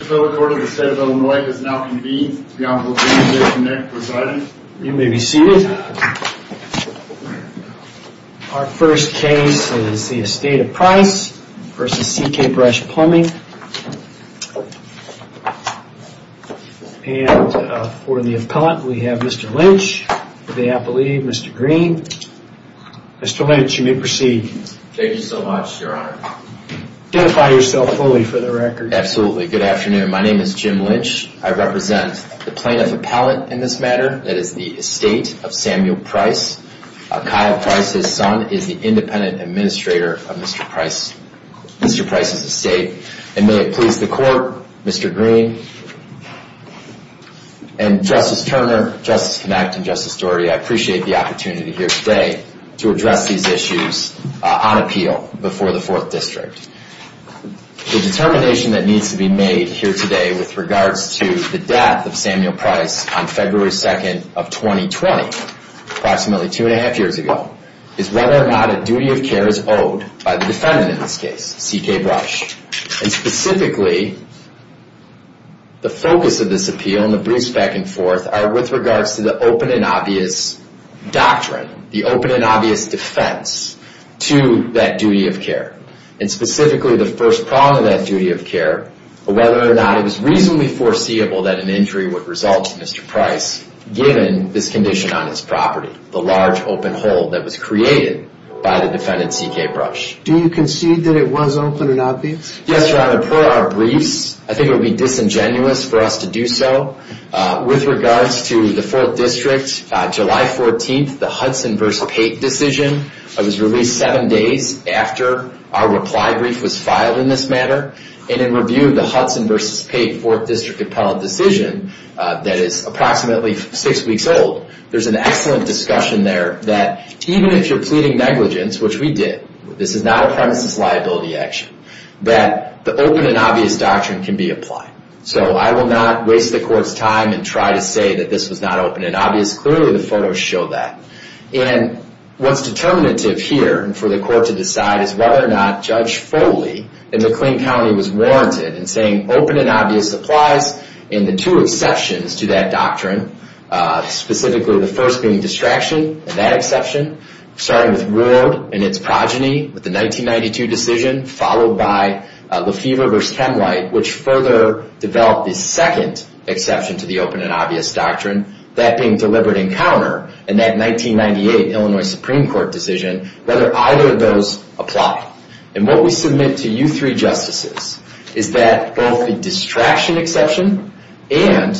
The court of the state of Illinois has now convened. The appellant, Mr. Nick, presides. You may be seated. Our first case is the estate of price v. CK Brush Plumbing. And for the appellant, we have Mr. Lynch. For the appellee, Mr. Green. Mr. Lynch, you may proceed. Thank you so much, your honor. Identify yourself fully for the record. Absolutely. Good afternoon. My name is Jim Lynch. I represent the plaintiff appellant in this matter. That is the estate of Samuel Price. Kyle Price, his son, is the independent administrator of Mr. Price's estate. And may it please the court, Mr. Green and Justice Turner, Justice Connacht, and Justice Doherty, I appreciate the opportunity here today to address these issues on appeal before the Fourth District. The determination that needs to be made here today with regards to the death of Samuel Price on February 2nd of 2020, approximately two and a half years ago, is whether or not a duty of care is owed by the defendant in this case, CK Brush. And specifically, the focus of this appeal and the briefs back and forth are with regards to the open and obvious doctrine, the open and obvious defense to that duty of care. And specifically, the first prong of that duty of care, whether or not it was reasonably foreseeable that an injury would result to Mr. Price, given this condition on his property, the large open hole that was created by the defendant, CK Brush. Do you concede that it was open and obvious? Yes, your honor. Per our briefs, I think it would be disingenuous for us to do so. With regards to the Fourth District, July 14th, the Hudson v. Pate decision was released seven days after our reply brief was filed in this manner. And in review of the Hudson v. Pate Fourth District appellate decision, that is approximately six weeks old, there's an excellent discussion there that even if you're pleading negligence, which we did, this is not a premises liability action, that the open and obvious doctrine can be applied. So I will not waste the court's time and try to say that this was not open and obvious. Clearly, the photos show that. And what's determinative here for the court to decide is whether or not Judge Foley in McLean County was warranted in saying open and obvious applies in the two exceptions to that doctrine, specifically the first being distraction, that exception, starting with Ward and its progeny with the 1992 decision, followed by Lefever v. Hemlight, which further developed the second exception to the open and obvious doctrine, that being deliberate encounter. And that 1998 Illinois Supreme Court decision, whether either of those apply. And what we submit to you three justices is that both the distraction exception and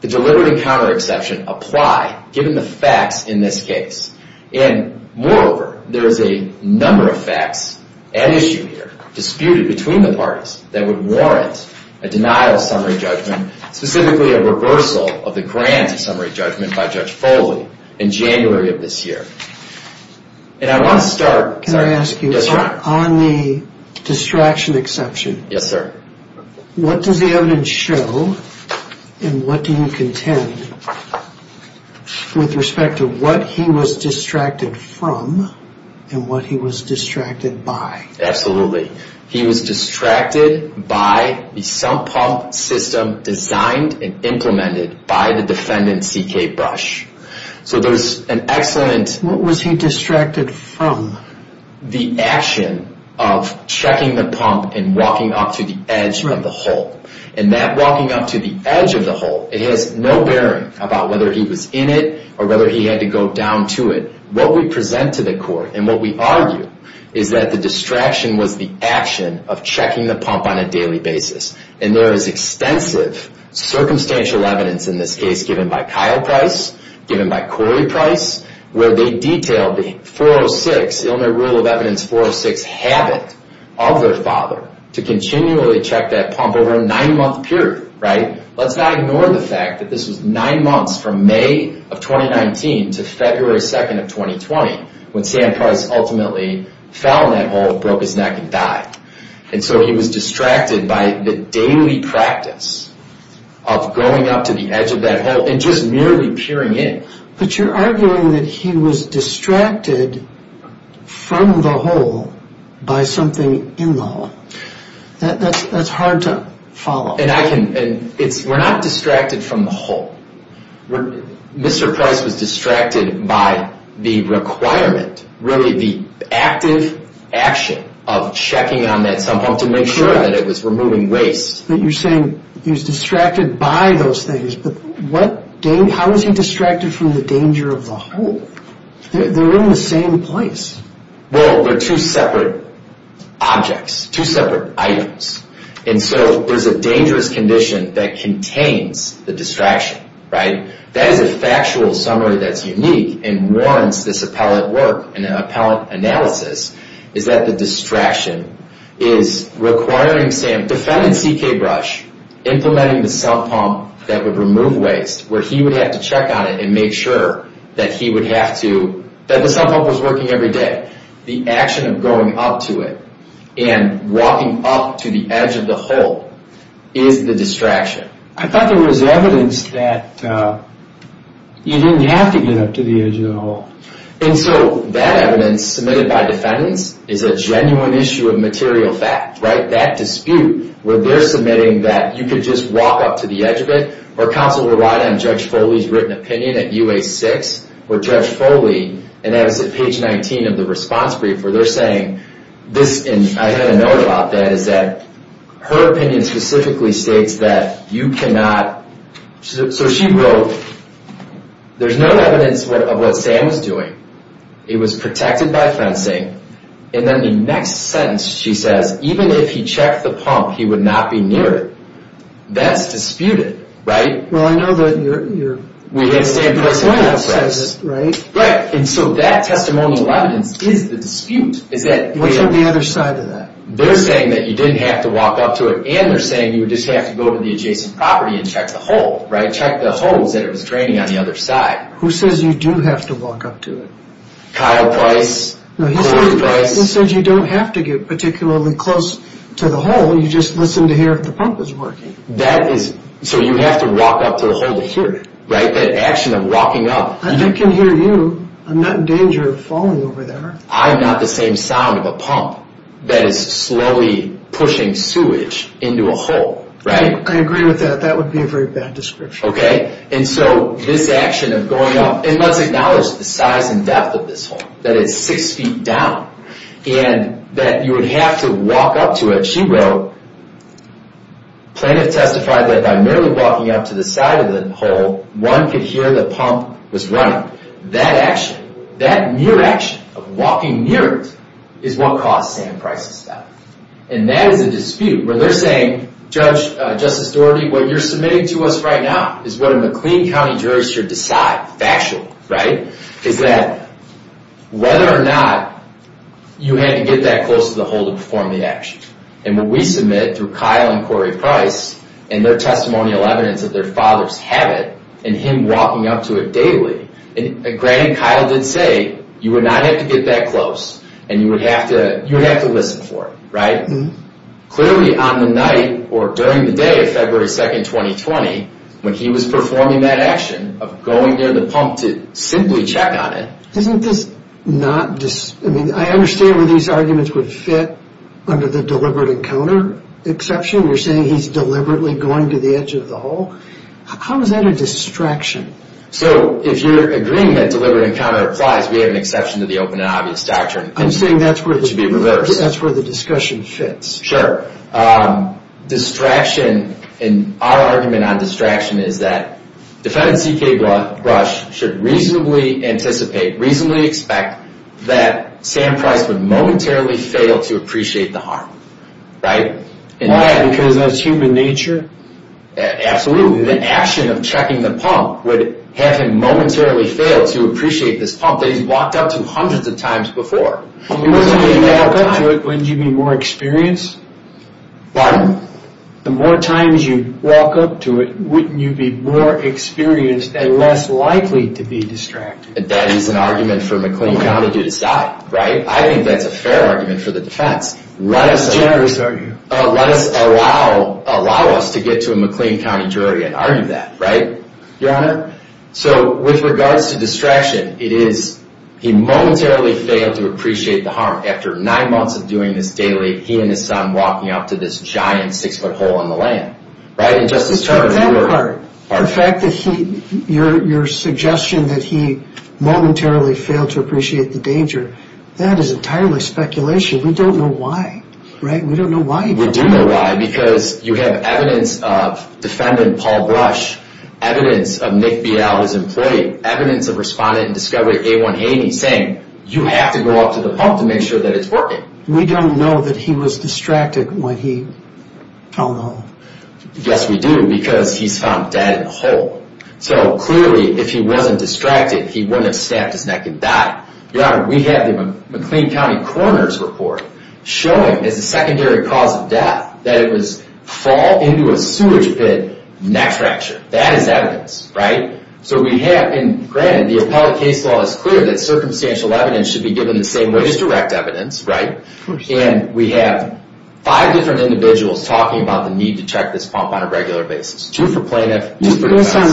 the deliberate encounter exception apply, given the facts in this case. And moreover, there is a number of facts at issue here, disputed between the parties, that would warrant a denial of summary judgment, specifically a reversal of the grant of summary judgment by Judge Foley in January of this year. And I want to start... Can I ask you, on the distraction exception, what does the evidence show and what do you contend with respect to what he was distracted from and what he was distracted by? Absolutely. He was distracted by the sump pump system designed and implemented by the defendant C.K. Brush. So there's an excellent... What was he distracted from? The action of checking the pump and walking up to the edge of the hole. And that walking up to the edge of the hole, it has no bearing about whether he was in it or whether he had to go down to it. What we present to the court, and what we argue, is that the distraction was the action of checking the pump on a daily basis. And there is extensive circumstantial evidence in this case, given by Kyle Price, given by Corey Price, where they detail the 406, Illinois Rule of Evidence 406, habit of their father to continually check that pump over a nine-month period. Let's not ignore the fact that this was nine months from May of 2019 to February 2nd of 2020, when Sam Price ultimately fell in that hole, broke his neck, and died. And so he was distracted by the daily practice of going up to the edge of that hole and just merely peering in. But you're arguing that he was distracted from the hole by something in the hole. That's hard to follow. We're not distracted from the hole. Mr. Price was distracted by the requirement, really the active action of checking on that sump pump to make sure that it was removing waste. But you're saying he was distracted by those things, but how was he distracted from the danger of the hole? They're in the same place. Well, they're two separate objects, two separate items. And so there's a dangerous condition that contains the distraction, right? That is a factual summary that's unique and warrants this appellate work and an appellate analysis, is that the distraction is requiring Sam, defendant C.K. Brush, implementing the sump pump that would remove waste, where he would have to check on it and make sure that he would have to, that the sump pump was working every day. The action of going up to it and walking up to the edge of the hole is the distraction. I thought there was evidence that you didn't have to get up to the edge of the hole. And so that evidence submitted by defendants is a genuine issue of material fact, right? That dispute where they're submitting that you could just walk up to the edge of it or counsel would write on Judge Foley's written opinion at U.A. 6 where Judge Foley, and that was at page 19 of the response brief, where they're saying this, and I had a note about that, is that her opinion specifically states that you cannot, so she wrote, there's no evidence of what Sam was doing. He was protected by fencing. And then the next sentence she says, even if he checked the pump, he would not be near it. That's disputed, right? Well, I know that you're going up to it, right? Right, and so that testimonial evidence is the dispute. What's on the other side of that? They're saying that you didn't have to walk up to it, and they're saying you would just have to go to the adjacent property and check the hole, right, check the holes that it was draining on the other side. Who says you do have to walk up to it? Kyle Price. He says you don't have to get particularly close to the hole. You just listen to hear if the pump is working. So you have to walk up to the hole to hear it, right, that action of walking up. I can hear you. I'm not in danger of falling over there. I'm not the same sound of a pump that is slowly pushing sewage into a hole, right? I agree with that. That would be a very bad description. Okay, and so this action of going up, and let's acknowledge the size and depth of this hole, that it's 6 feet down, and that you would have to walk up to it. She wrote, Plaintiff testified that by merely walking up to the side of the hole, one could hear the pump was running. That action, that mere action of walking near it is what caused Sam Price's death. And that is a dispute where they're saying, Judge, Justice Doherty, what you're submitting to us right now is what a McLean County jury should decide factually, right, is that whether or not you had to get that close to the hole to perform the action. And what we submit through Kyle and Corey Price and their testimonial evidence that their fathers have it and him walking up to it daily, and granted, Kyle did say you would not have to get that close and you would have to listen for it, right? Clearly, on the night or during the day of February 2, 2020, when he was performing that action of going near the pump to simply check on it... Isn't this not... I mean, I understand where these arguments would fit under the deliberate encounter exception. You're saying he's deliberately going to the edge of the hole. How is that a distraction? So, if you're agreeing that deliberate encounter applies, we have an exception to the open and obvious doctrine. I'm saying that's where... It should be reversed. That's where the discussion fits. Sure. Distraction, and our argument on distraction is that defendant C.K. Brush should reasonably anticipate, reasonably expect that Sam Price would momentarily fail to appreciate the harm, right? Why? Because that's human nature? Absolutely. The action of checking the pump would have him momentarily fail to appreciate this pump that he's walked up to hundreds of times before. The more times you walk up to it, wouldn't you be more experienced? Pardon? The more times you walk up to it, wouldn't you be more experienced and less likely to be distracted? That is an argument for McLean County to decide, right? I think that's a fair argument for the defense. How generous are you? Let us allow us to get to a McLean County jury and argue that, right, Your Honor? So with regards to distraction, it is he momentarily failed to appreciate the harm. After nine months of doing this daily, he and his son walking up to this giant six-foot hole in the land. Right? It's not that part. The fact that he, your suggestion that he momentarily failed to appreciate the danger, that is entirely speculation. We don't know why, right? We don't know why he did that. We do know why because you have evidence of defendant Paul Brush, evidence of Nick Beale, his employee, evidence of respondent and discovery A1 Amy saying, you have to go up to the pump to make sure that it's working. We don't know that he was distracted when he fell in the hole. Yes, we do because he's found dead in the hole. So clearly, if he wasn't distracted, he wouldn't have stabbed his neck and died. Your Honor, we have the McLean County coroner's report showing as a secondary cause of death that it was fall into a sewage pit, neck fracture. That is evidence. Right? So we have, and granted, the appellate case law is clear that circumstantial evidence should be given the same way as direct evidence. Right? And we have five different individuals talking about the need to check this pump on a regular basis. Two for plaintiff, two for defense.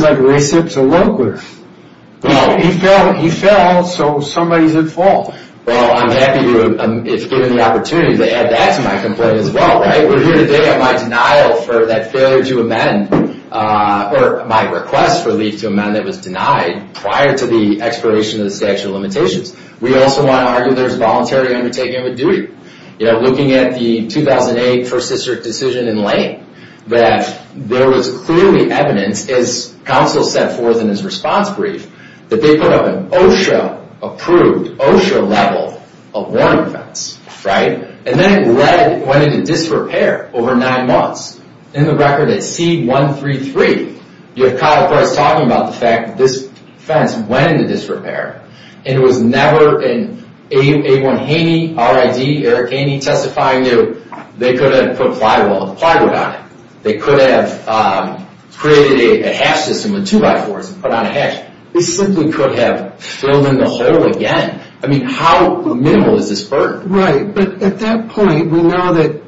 He fell so somebody's at fault. Well, I'm happy to, if given the opportunity, to add that to my complaint as well. Right? We're here today on my denial for that failure to amend, or my request for leave to amend, that was denied prior to the expiration of the statute of limitations. We also want to argue there's voluntary undertaking of a duty. You know, looking at the 2008 First District decision in Lane, that there was clearly evidence, as counsel set forth in his response brief, that they put up an OSHA-approved, OSHA-level warning fence. Right? And then it went into disrepair over nine months. In the record at C-133, you have Kyle Price talking about the fact that this fence went into disrepair. And it was never an A1 Haney, RID, Eric Haney testifying to, they could have put plywood on it. They could have created a hash system with two-by-fours and put on a hash. They simply could have filled in the hole again. I mean, how minimal is this burden? Right. But at that point, we know that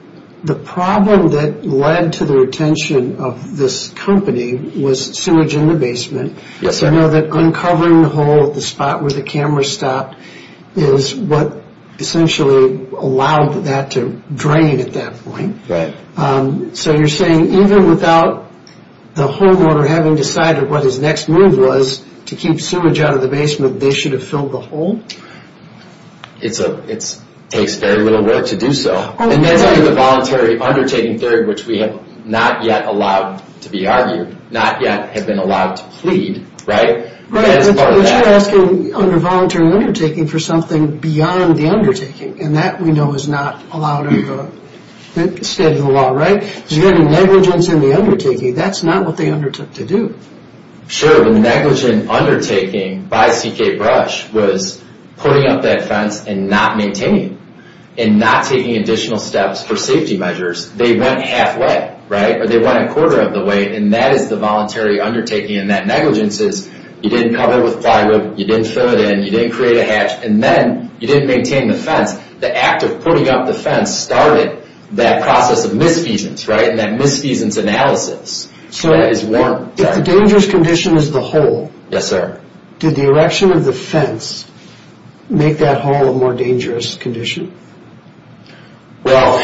the problem that led to the retention of this company was sewage in the basement. Yes, sir. We know that uncovering the hole at the spot where the camera stopped is what essentially allowed that to drain at that point. Right. So you're saying even without the homeowner having decided what his next move was to keep sewage out of the basement, they should have filled the hole? It takes very little work to do so. And that's under the voluntary undertaking theory, which we have not yet allowed to be argued, not yet have been allowed to plead, right? Right. But you're asking under voluntary undertaking for something beyond the undertaking. And that we know is not allowed under the state of the law, right? There's going to be negligence in the undertaking. That's not what they undertook to do. Sure. The negligent undertaking by CK Brush was putting up that fence and not maintaining it and not taking additional steps for safety measures. They went halfway, right? Or they went a quarter of the way, and that is the voluntary undertaking. And that negligence is you didn't cover it with plywood, you didn't fill it in, you didn't create a hatch, and then you didn't maintain the fence. The act of putting up the fence started that process of misfeasance, right? And that misfeasance analysis is warranted. If the dangerous condition is the hole. Yes, sir. Did the erection of the fence make that hole a more dangerous condition? Well,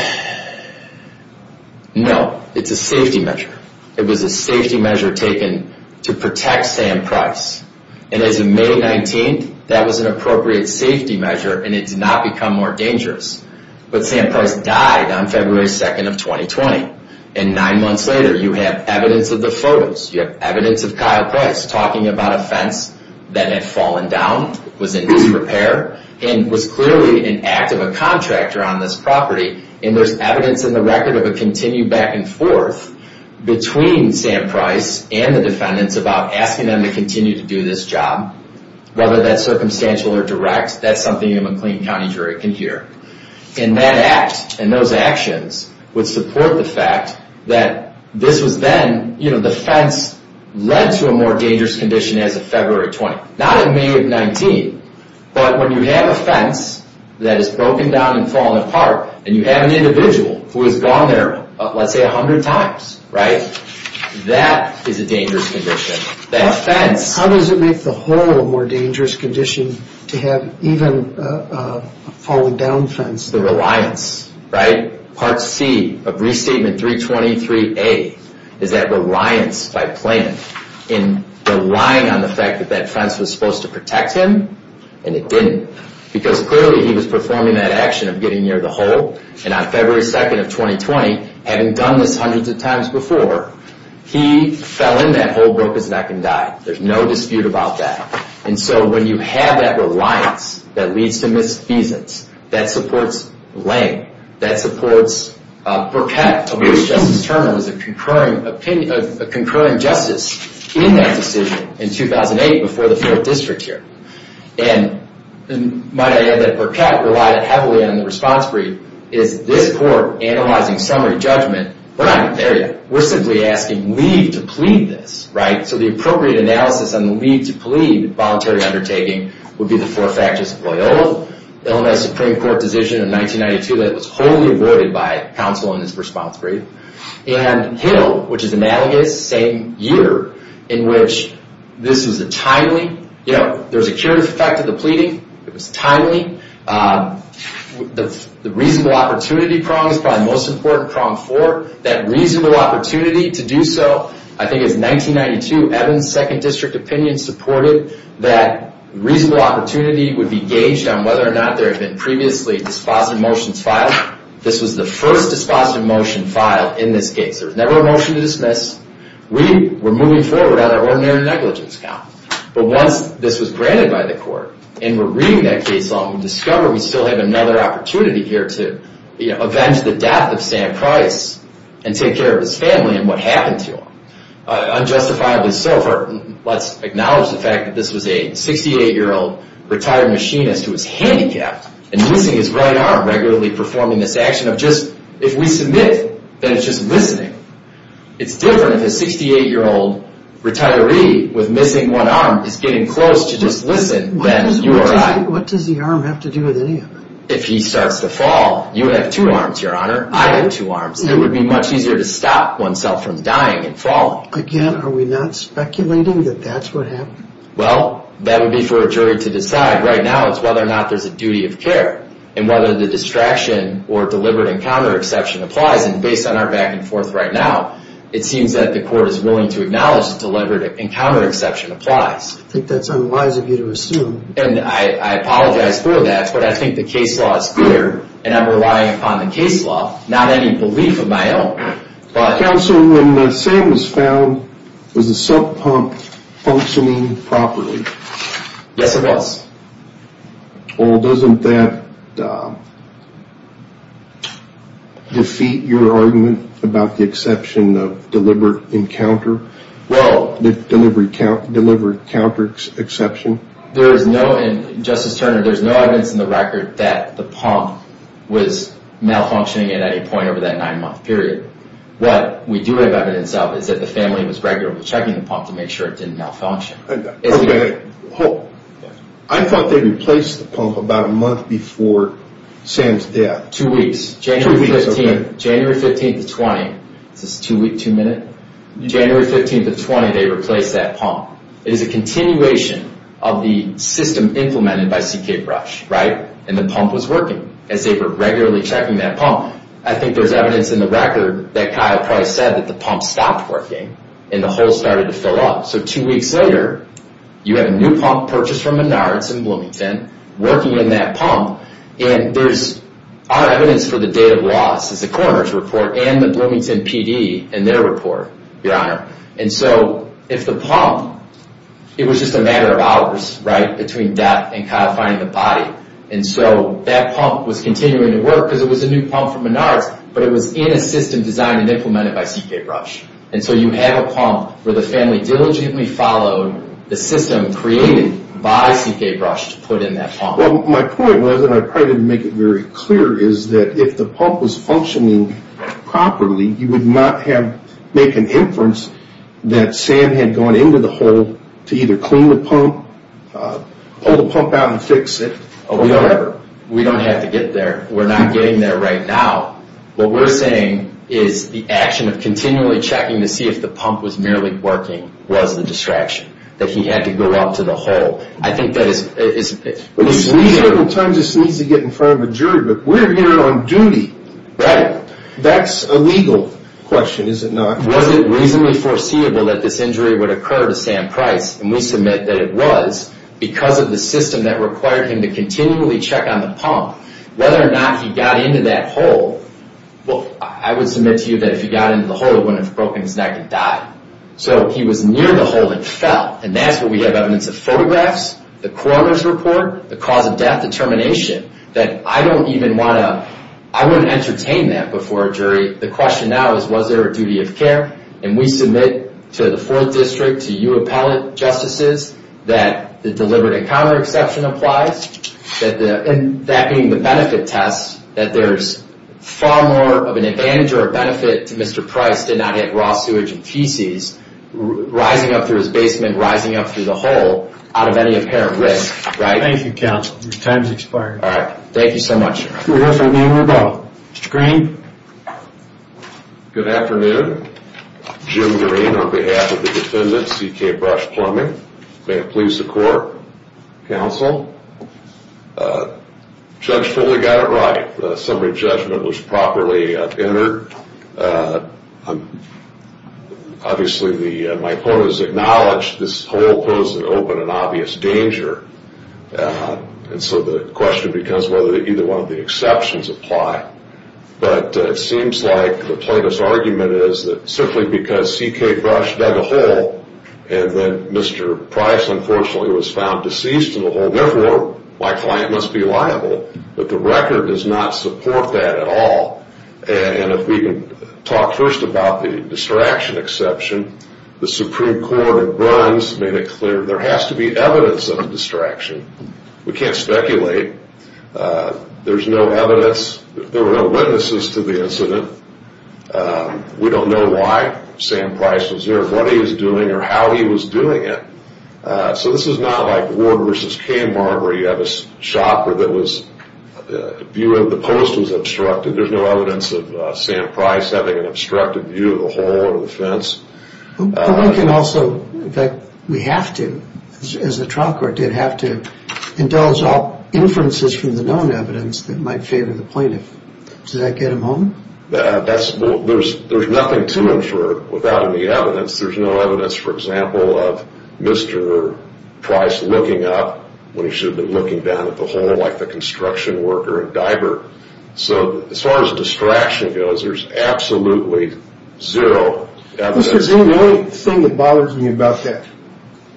no. It's a safety measure. It was a safety measure taken to protect Sam Price. And as of May 19th, that was an appropriate safety measure, and it did not become more dangerous. But Sam Price died on February 2nd of 2020. And nine months later, you have evidence of the photos. You have evidence of Kyle Price talking about a fence that had fallen down, was in disrepair, and was clearly an act of a contractor on this property. And there's evidence in the record of a continued back and forth between Sam Price and the defendants about asking them to continue to do this job. Whether that's circumstantial or direct, that's something a McLean County jury can hear. And that act and those actions would support the fact that this was then, you know, the fence led to a more dangerous condition as of February 20th. Not in May of 19th, but when you have a fence that is broken down and falling apart, and you have an individual who has gone there, let's say, a hundred times, right? That is a dangerous condition. How does it make the hole a more dangerous condition to have even a falling down fence? The reliance, right? Part C of Restatement 323A is that reliance by plan, in relying on the fact that that fence was supposed to protect him, and it didn't. Because clearly he was performing that action of getting near the hole, and on February 2nd of 2020, having done this hundreds of times before, he fell in that hole, broke his neck, and died. There's no dispute about that. And so when you have that reliance that leads to misdemeanors, that supports Lang, that supports Burkett, of which Justice Turner was a concurring justice in that decision in 2008, before the 4th District here. And my idea that Burkett relied heavily on the response brief is this court analyzing summary judgment, and we're not even there yet. We're simply asking leave to plead this, right? So the appropriate analysis on the leave to plead voluntary undertaking would be the four factors of Loyola, Illinois Supreme Court decision in 1992 that was wholly avoided by counsel in this response brief, and Hill, which is analogous, same year, in which this was a timely, you know, there was a curative effect of the pleading, it was timely, the reasonable opportunity prong was probably the most important prong for that reasonable opportunity to do so. I think it was 1992, Evans' 2nd District opinion supported that reasonable opportunity would be gauged on whether or not there had been previously dispositive motions filed. This was the first dispositive motion filed in this case. There was never a motion to dismiss. We were moving forward on our ordinary negligence count. But once this was granted by the court, and we're reading that case long, we discover we still have another opportunity here to, you know, avenge the death of Sam Price and take care of his family and what happened to him. Unjustifiably so, let's acknowledge the fact that this was a 68-year-old retired machinist who was handicapped and missing his right arm, regularly performing this action of just, if we submit, then it's just listening. It's different if a 68-year-old retiree with missing one arm is getting close to just listen, then you are right. What does the arm have to do with any of it? If he starts to fall, you would have two arms, Your Honor. I have two arms. It would be much easier to stop oneself from dying and falling. Again, are we not speculating that that's what happened? Well, that would be for a jury to decide. Right now it's whether or not there's a duty of care and whether the distraction or deliberate encounter exception applies. And based on our back and forth right now, it seems that the court is willing to acknowledge the deliberate encounter exception applies. I think that's unwise of you to assume. And I apologize for that, but I think the case law is clear, and I'm relying upon the case law, not any belief of my own. Counsel, when Sam was found, was the sump pump functioning properly? Yes, it was. Well, doesn't that defeat your argument about the exception of deliberate encounter? Well, the deliberate counter exception? Justice Turner, there's no evidence in the record that the pump was malfunctioning at any point over that nine-month period. What we do have evidence of is that the family was regularly checking the pump to make sure it didn't malfunction. Okay. I thought they replaced the pump about a month before Sam's death. Two weeks. January 15th to 20th. Is this two week, two minute? January 15th to 20th, they replaced that pump. It is a continuation of the system implemented by CK Brush, right? And the pump was working as they were regularly checking that pump. I think there's evidence in the record that Kyle probably said that the pump stopped working and the hole started to fill up. So two weeks later, you have a new pump purchased from Menards in Bloomington, working in that pump, and there's other evidence for the date of loss, as the coroner's report and the Bloomington PD in their report, Your Honor. And so if the pump, it was just a matter of hours, right, between death and Kyle finding the body. And so that pump was continuing to work because it was a new pump from Menards, but it was in a system designed and implemented by CK Brush. And so you have a pump where the family diligently followed the system created by CK Brush to put in that pump. Well, my point was, and I probably didn't make it very clear, is that if the pump was functioning properly, you would not make an inference that Sam had gone into the hole to either clean the pump, pull the pump out and fix it, or whatever. We don't have to get there. We're not getting there right now. What we're saying is the action of continually checking to see if the pump was merely working was the distraction, that he had to go out to the hole. I think that is... Well, he certainly needs to get in front of a jury, but we're here on duty. Right. That's a legal question, is it not? Was it reasonably foreseeable that this injury would occur to Sam Price? And we submit that it was because of the system that required him to continually check on the pump. Whether or not he got into that hole, I would submit to you that if he got into the hole, it wouldn't have broken his neck and died. So he was near the hole and fell. And that's what we have evidence of photographs, the coroner's report, the cause of death determination, that I don't even want to... The question now is, was there a duty of care? And we submit to the 4th District, to you appellate justices, that the deliberate encounter exception applies, and that being the benefit test, that there's far more of an advantage or a benefit to Mr. Price did not hit raw sewage and feces, rising up through his basement, rising up through the hole, out of any apparent risk, right? Thank you, counsel. Your time has expired. All right. Thank you so much. Mr. Green? Good afternoon. Jim Green, on behalf of the defendant, C.K. Brush-Plumbing. May it please the court, counsel. Judge Foley got it right. The summary judgment was properly entered. Obviously, my opponents acknowledged this hole poses an open and obvious danger. And so the question becomes whether either one of the exceptions apply. But it seems like the plaintiff's argument is that simply because C.K. Brush dug a hole and then Mr. Price, unfortunately, was found deceased in the hole, therefore, my client must be liable. But the record does not support that at all. And if we can talk first about the distraction exception, the Supreme Court of Burns made it clear there has to be evidence of a distraction. We can't speculate. There's no evidence. There were no witnesses to the incident. We don't know why Sam Price was there, what he was doing, or how he was doing it. So this is not like Ward v. Kmar where you have a shopper that was... the view of the post was obstructed. There's no evidence of Sam Price having an obstructed view of the hole or the fence. But we can also, in fact, we have to, as the trial court did, have to indulge all inferences from the known evidence that might favor the plaintiff. Does that get them home? There's nothing to infer without any evidence. There's no evidence, for example, of Mr. Price looking up when he should have been looking down at the hole like the construction worker and diver. So as far as distraction goes, there's absolutely zero evidence. The only thing that bothers me about that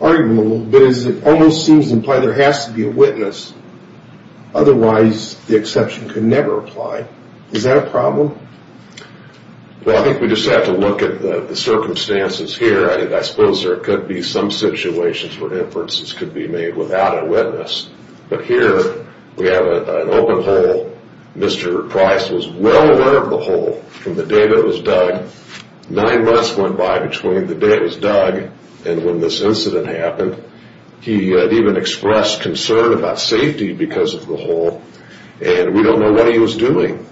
argument a little bit is it almost seems to imply there has to be a witness. Otherwise, the exception could never apply. Is that a problem? Well, I think we just have to look at the circumstances here. I suppose there could be some situations where inferences could be made without a witness. But here, we have an open hole. Mr. Price was well aware of the hole from the day that it was dug. Nine months went by between the day it was dug and when this incident happened. He had even expressed concern about safety because of the hole. And we don't know what he was doing.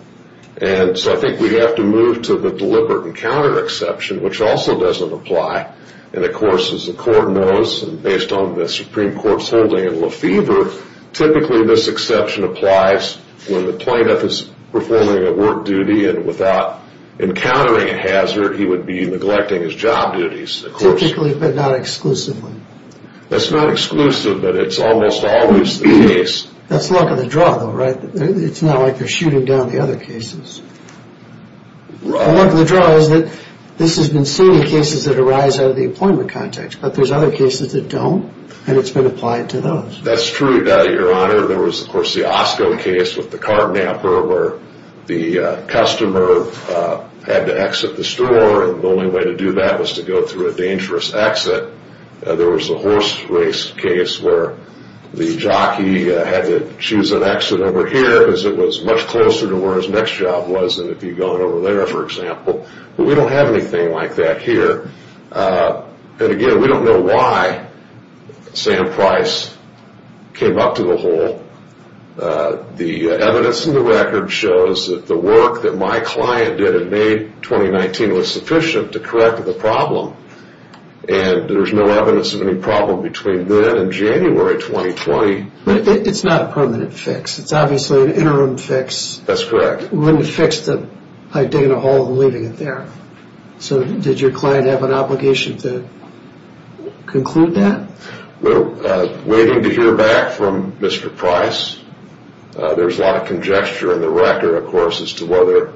And so I think we have to move to the deliberate encounter exception, which also doesn't apply. And, of course, as the court knows, based on the Supreme Court's holding in Lefevre, typically this exception applies when the plaintiff is performing a work duty and without encountering a hazard, he would be neglecting his job duties. Typically, but not exclusively? That's not exclusive, but it's almost always the case. That's luck of the draw, though, right? It's not like they're shooting down the other cases. The luck of the draw is that this has been seen in cases that arise out of the employment context, but there's other cases that don't, and it's been applied to those. That's true, Your Honor. There was, of course, the Osco case with the cart napper where the customer had to exit the store, and the only way to do that was to go through a dangerous exit. There was the horse race case where the jockey had to choose an exit over here because it was much closer to where his next job was than if he'd gone over there, for example. But we don't have anything like that here. Again, we don't know why Sam Price came up to the hole. The evidence in the record shows that the work that my client did in May 2019 was sufficient to correct the problem, and there's no evidence of any problem between then and January 2020. It's not a permanent fix. It's obviously an interim fix. That's correct. You wouldn't have fixed it by digging a hole and leaving it there. So did your client have an obligation to conclude that? Well, waiting to hear back from Mr. Price. There's a lot of conjecture in the record, of course, as to whether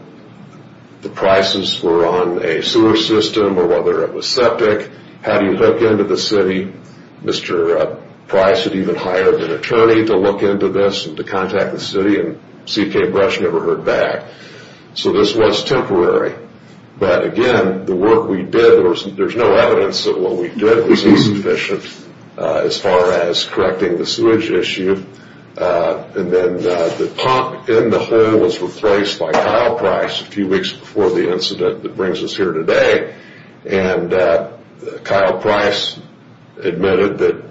the prices were on a sewer system or whether it was septic. How do you hook into the city? Mr. Price had even hired an attorney to look into this and to contact the city, and C.K. Brush never heard back, so this was temporary. But, again, the work we did, there's no evidence that what we did was insufficient as far as correcting the sewage issue. And then the pump in the hole was replaced by Kyle Price a few weeks before the incident that brings us here today. And Kyle Price admitted that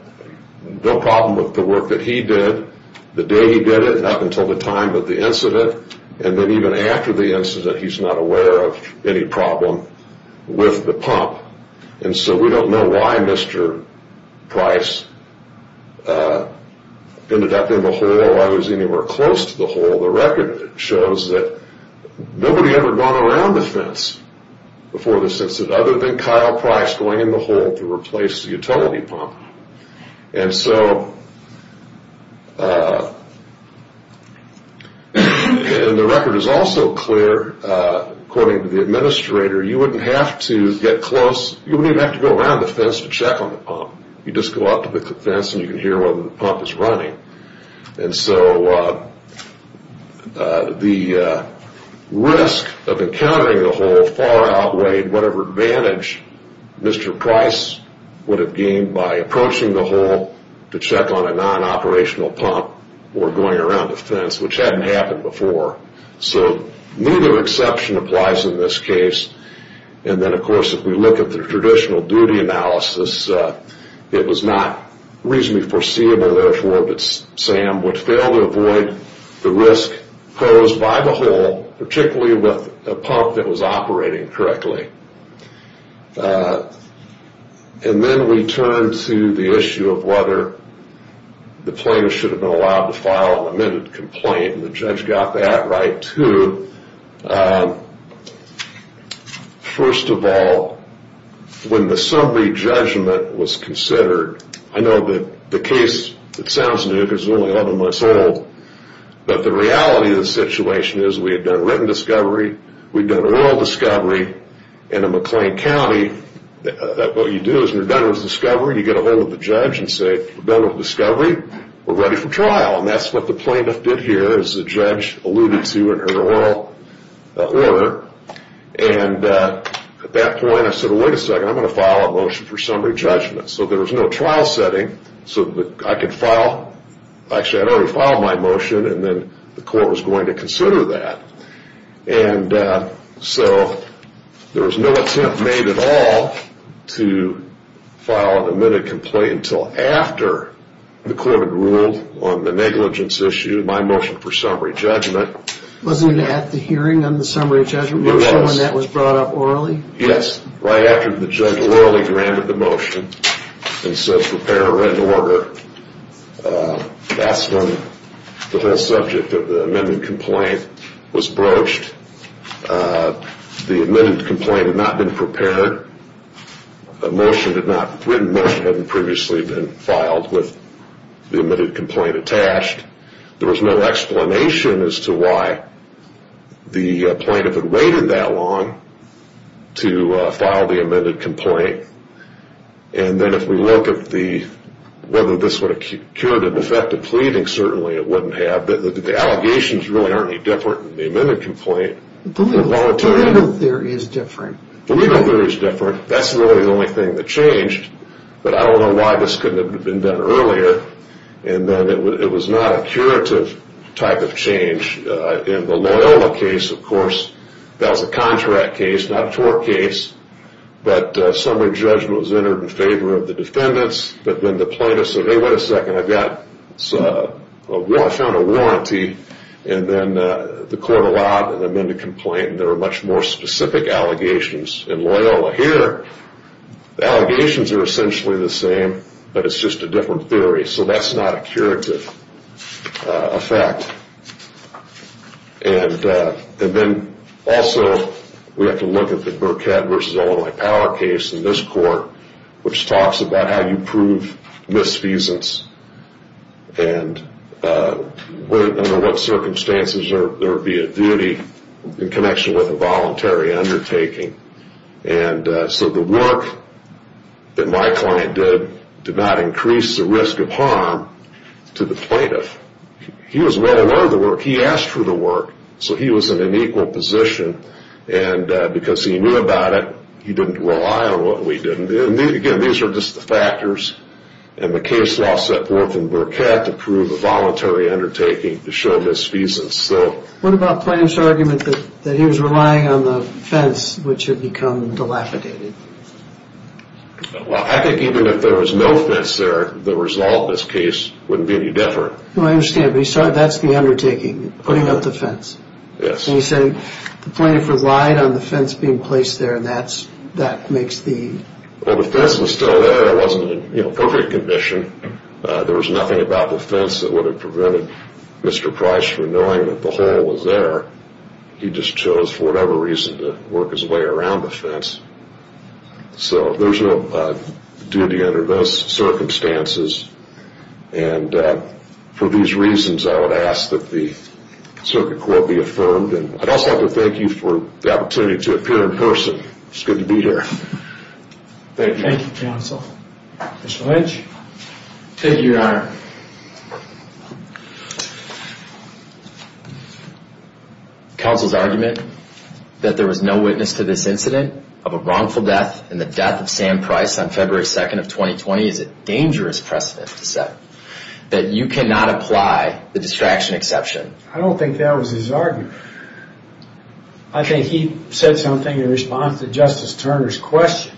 no problem with the work that he did the day he did it, not until the time of the incident, and then even after the incident, he's not aware of any problem with the pump. And so we don't know why Mr. Price ended up in the hole or was anywhere close to the hole. The record shows that nobody had ever gone around the fence before the incident other than Kyle Price going in the hole to replace the utility pump. And so the record is also clear, according to the administrator, you wouldn't have to get close. You wouldn't even have to go around the fence to check on the pump. You just go out to the fence and you can hear whether the pump is running. And so the risk of encountering the hole far outweighed whatever advantage Mr. Price would have gained by approaching the hole to check on a non-operational pump or going around the fence, which hadn't happened before. So neither exception applies in this case. And then, of course, if we look at the traditional duty analysis, it was not reasonably foreseeable therefore that Sam would fail to avoid the risk posed by the hole, particularly with a pump that was operating correctly. And then we turn to the issue of whether the plaintiff should have been allowed to file an amended complaint, and the judge got that right too. First of all, when the summary judgment was considered, I know that the case, it sounds new because it was only 11 months old, but the reality of the situation is we had done written discovery, we'd done oral discovery in McLean County. What you do is when you're done with discovery, you get a hold of the judge and say, we're done with discovery, we're ready for trial. And that's what the plaintiff did here, as the judge alluded to in her oral order. And at that point I said, wait a second, I'm going to file a motion for summary judgment. So there was no trial setting so that I could file. Actually, I had already filed my motion, and then the court was going to consider that. And so there was no attempt made at all to file an amended complaint until after the court had ruled on the negligence issue, my motion for summary judgment. Wasn't it at the hearing on the summary judgment motion when that was brought up orally? Yes, right after the judge orally granted the motion and said, prepare a written order. That's when the whole subject of the amended complaint was broached. The amended complaint had not been prepared. A written motion hadn't previously been filed with the amended complaint attached. There was no explanation as to why the plaintiff had waited that long to file the amended complaint. And then if we look at whether this would have cured a defective pleading, certainly it wouldn't have. The allegations really aren't any different in the amended complaint. The legal theory is different. The legal theory is different. That's really the only thing that changed. But I don't know why this couldn't have been done earlier. And then it was not a curative type of change. In the Loyola case, of course, that was a contract case, not a tort case. But summary judgment was entered in favor of the defendants. But then the plaintiff said, hey, wait a second, I found a warranty. And then the court allowed an amended complaint. And there were much more specific allegations in Loyola. Here, the allegations are essentially the same, but it's just a different theory. So that's not a curative effect. And then also we have to look at the Burkett v. Illinois Power case in this court, which talks about how you prove misfeasance and under what circumstances there would be a duty in connection with a voluntary undertaking. And so the work that my client did did not increase the risk of harm to the plaintiff. He was well aware of the work. He asked for the work. So he was in an equal position. And because he knew about it, he didn't rely on what we did. And, again, these are just the factors. And the case law set forth in Burkett to prove a voluntary undertaking to show misfeasance. What about the plaintiff's argument that he was relying on the fence, which had become dilapidated? Well, I think even if there was no fence there, the result of this case wouldn't be any different. Well, I understand. But that's the undertaking, putting up the fence. Yes. And you said the plaintiff relied on the fence being placed there, and that makes the... Well, the fence was still there. It wasn't in perfect condition. There was nothing about the fence that would have prevented Mr. Price from knowing that the hole was there. He just chose, for whatever reason, to work his way around the fence. So there's no duty under those circumstances. And for these reasons, I would ask that the Circuit Court be affirmed. And I'd also like to thank you for the opportunity to appear in person. It's good to be here. Thank you. Mr. Lynch? Thank you, Your Honor. Counsel's argument that there was no witness to this incident of a wrongful death and the death of Sam Price on February 2nd of 2020 is a dangerous precedent to set, that you cannot apply the distraction exception. I don't think that was his argument. I think he said something in response to Justice Turner's question.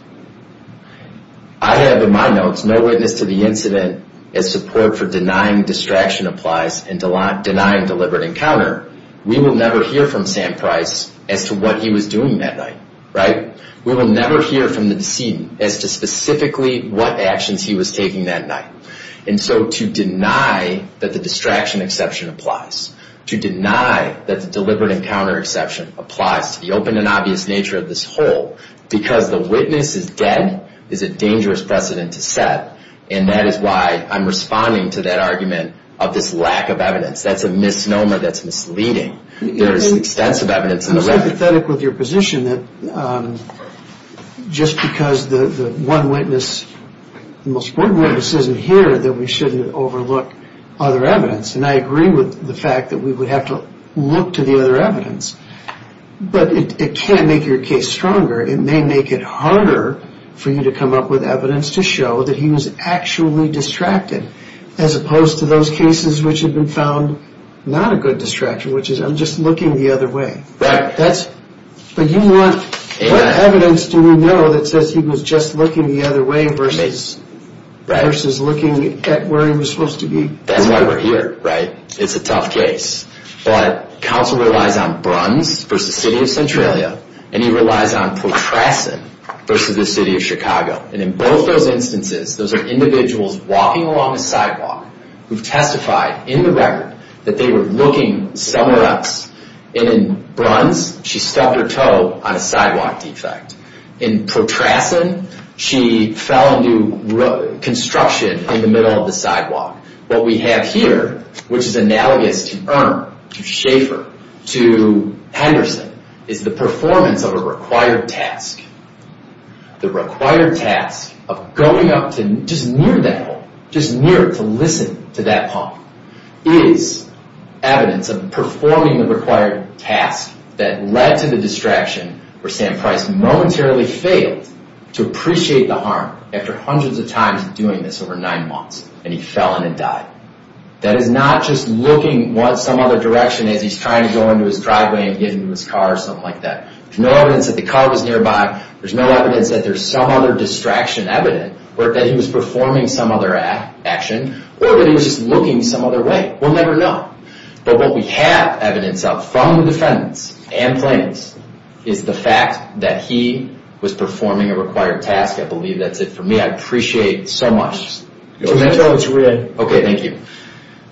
I have in my notes no witness to the incident as support for denying distraction applies and denying deliberate encounter. We will never hear from Sam Price as to what he was doing that night, right? We will never hear from the decedent as to specifically what actions he was taking that night. And so to deny that the distraction exception applies, to deny that the deliberate encounter exception applies to the open and obvious nature of this hole because the witness is dead is a dangerous precedent to set. And that is why I'm responding to that argument of this lack of evidence. That's a misnomer that's misleading. There is extensive evidence in the record. I'm sympathetic with your position that just because the one witness, the most important witness isn't here, that we shouldn't overlook other evidence. And I agree with the fact that we would have to look to the other evidence. But it can make your case stronger. It may make it harder for you to come up with evidence to show that he was actually distracted as opposed to those cases which have been found not a good distraction, which is I'm just looking the other way. Right. But what evidence do we know that says he was just looking the other way versus looking at where he was supposed to be? That's why we're here, right? It's a tough case. But counsel relies on Bruns versus the city of Centralia, and he relies on Portrassen versus the city of Chicago. And in both those instances, those are individuals walking along a sidewalk who testified in the record that they were looking somewhere else. And in Bruns, she stepped her toe on a sidewalk defect. In Portrassen, she fell into construction in the middle of the sidewalk. What we have here, which is analogous to Earn, to Schaefer, to Henderson, is the performance of a required task. The required task of going up to just near that hole, just near it to listen to that punk, is evidence of performing the required task that led to the distraction where Sam Price momentarily failed to appreciate the harm after hundreds of times of doing this over nine months, and he fell in and died. That is not just looking some other direction as he's trying to go into his driveway and get into his car or something like that. There's no evidence that the car was nearby. There's no evidence that there's some other distraction evident or that he was performing some other action, or that he was just looking some other way. We'll never know. But what we have evidence of from the defendants and plaintiffs is the fact that he was performing a required task. I believe that's it for me. I appreciate it so much. Can I tell what you're reading? Okay, thank you.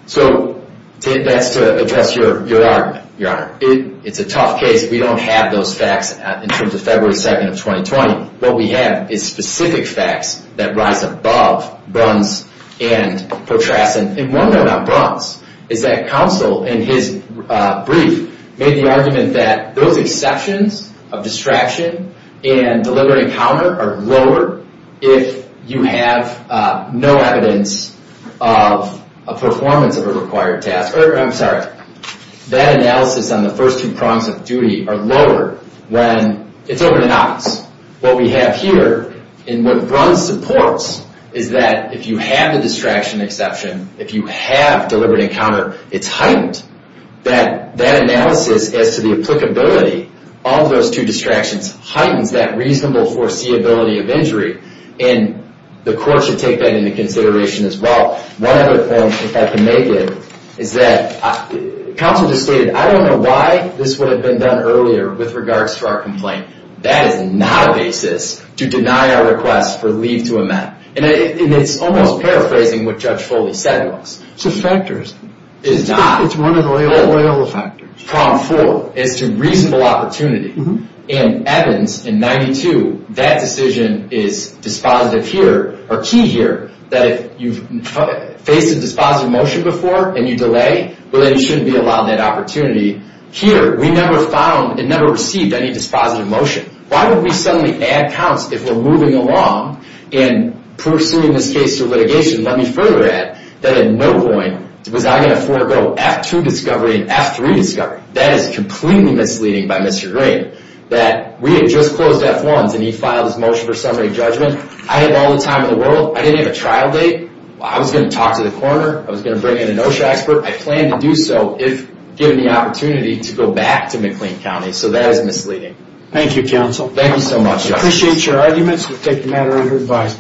So that's to address your argument, Your Honor. It's a tough case. We don't have those facts in terms of February 2nd of 2020. What we have is specific facts that rise above Bruns and Potrasson. And one thing about Bruns is that counsel in his brief made the argument that those exceptions of distraction and deliberate encounter are lower if you have no evidence of a performance of a required task. That analysis on the first two prongs of duty are lower when it's open and obvious. What we have here in what Bruns supports is that if you have the distraction exception, if you have deliberate encounter, it's heightened. That analysis as to the applicability of those two distractions heightens that reasonable foreseeability of injury. And the court should take that into consideration as well. One other point, if I can make it, is that counsel just stated, I don't know why this would have been done earlier with regards to our complaint. That is not a basis to deny our request for leave to amend. And it's almost paraphrasing what Judge Foley said to us. It's a factor. It's not. It's one of the Loyola factors. Prong four is to reasonable opportunity. And Evans in 92, that decision is dispositive here, or key here, that if you've faced a dispositive motion before and you delay, well then you shouldn't be allowed that opportunity. Here, we never found and never received any dispositive motion. Why would we suddenly add counts if we're moving along and pursuing this case through litigation? Let me further add that at no point was I going to forego F2 discovery and F3 discovery. That is completely misleading by Mr. Green, that we had just closed F1s and he filed his motion for summary judgment. I have all the time in the world. I didn't have a trial date. I was going to talk to the coroner. I was going to bring in an OSHA expert. I plan to do so if given the opportunity to go back to McLean County. So that is misleading. Thank you, counsel. Thank you so much. We appreciate your arguments. We'll take the matter under advice.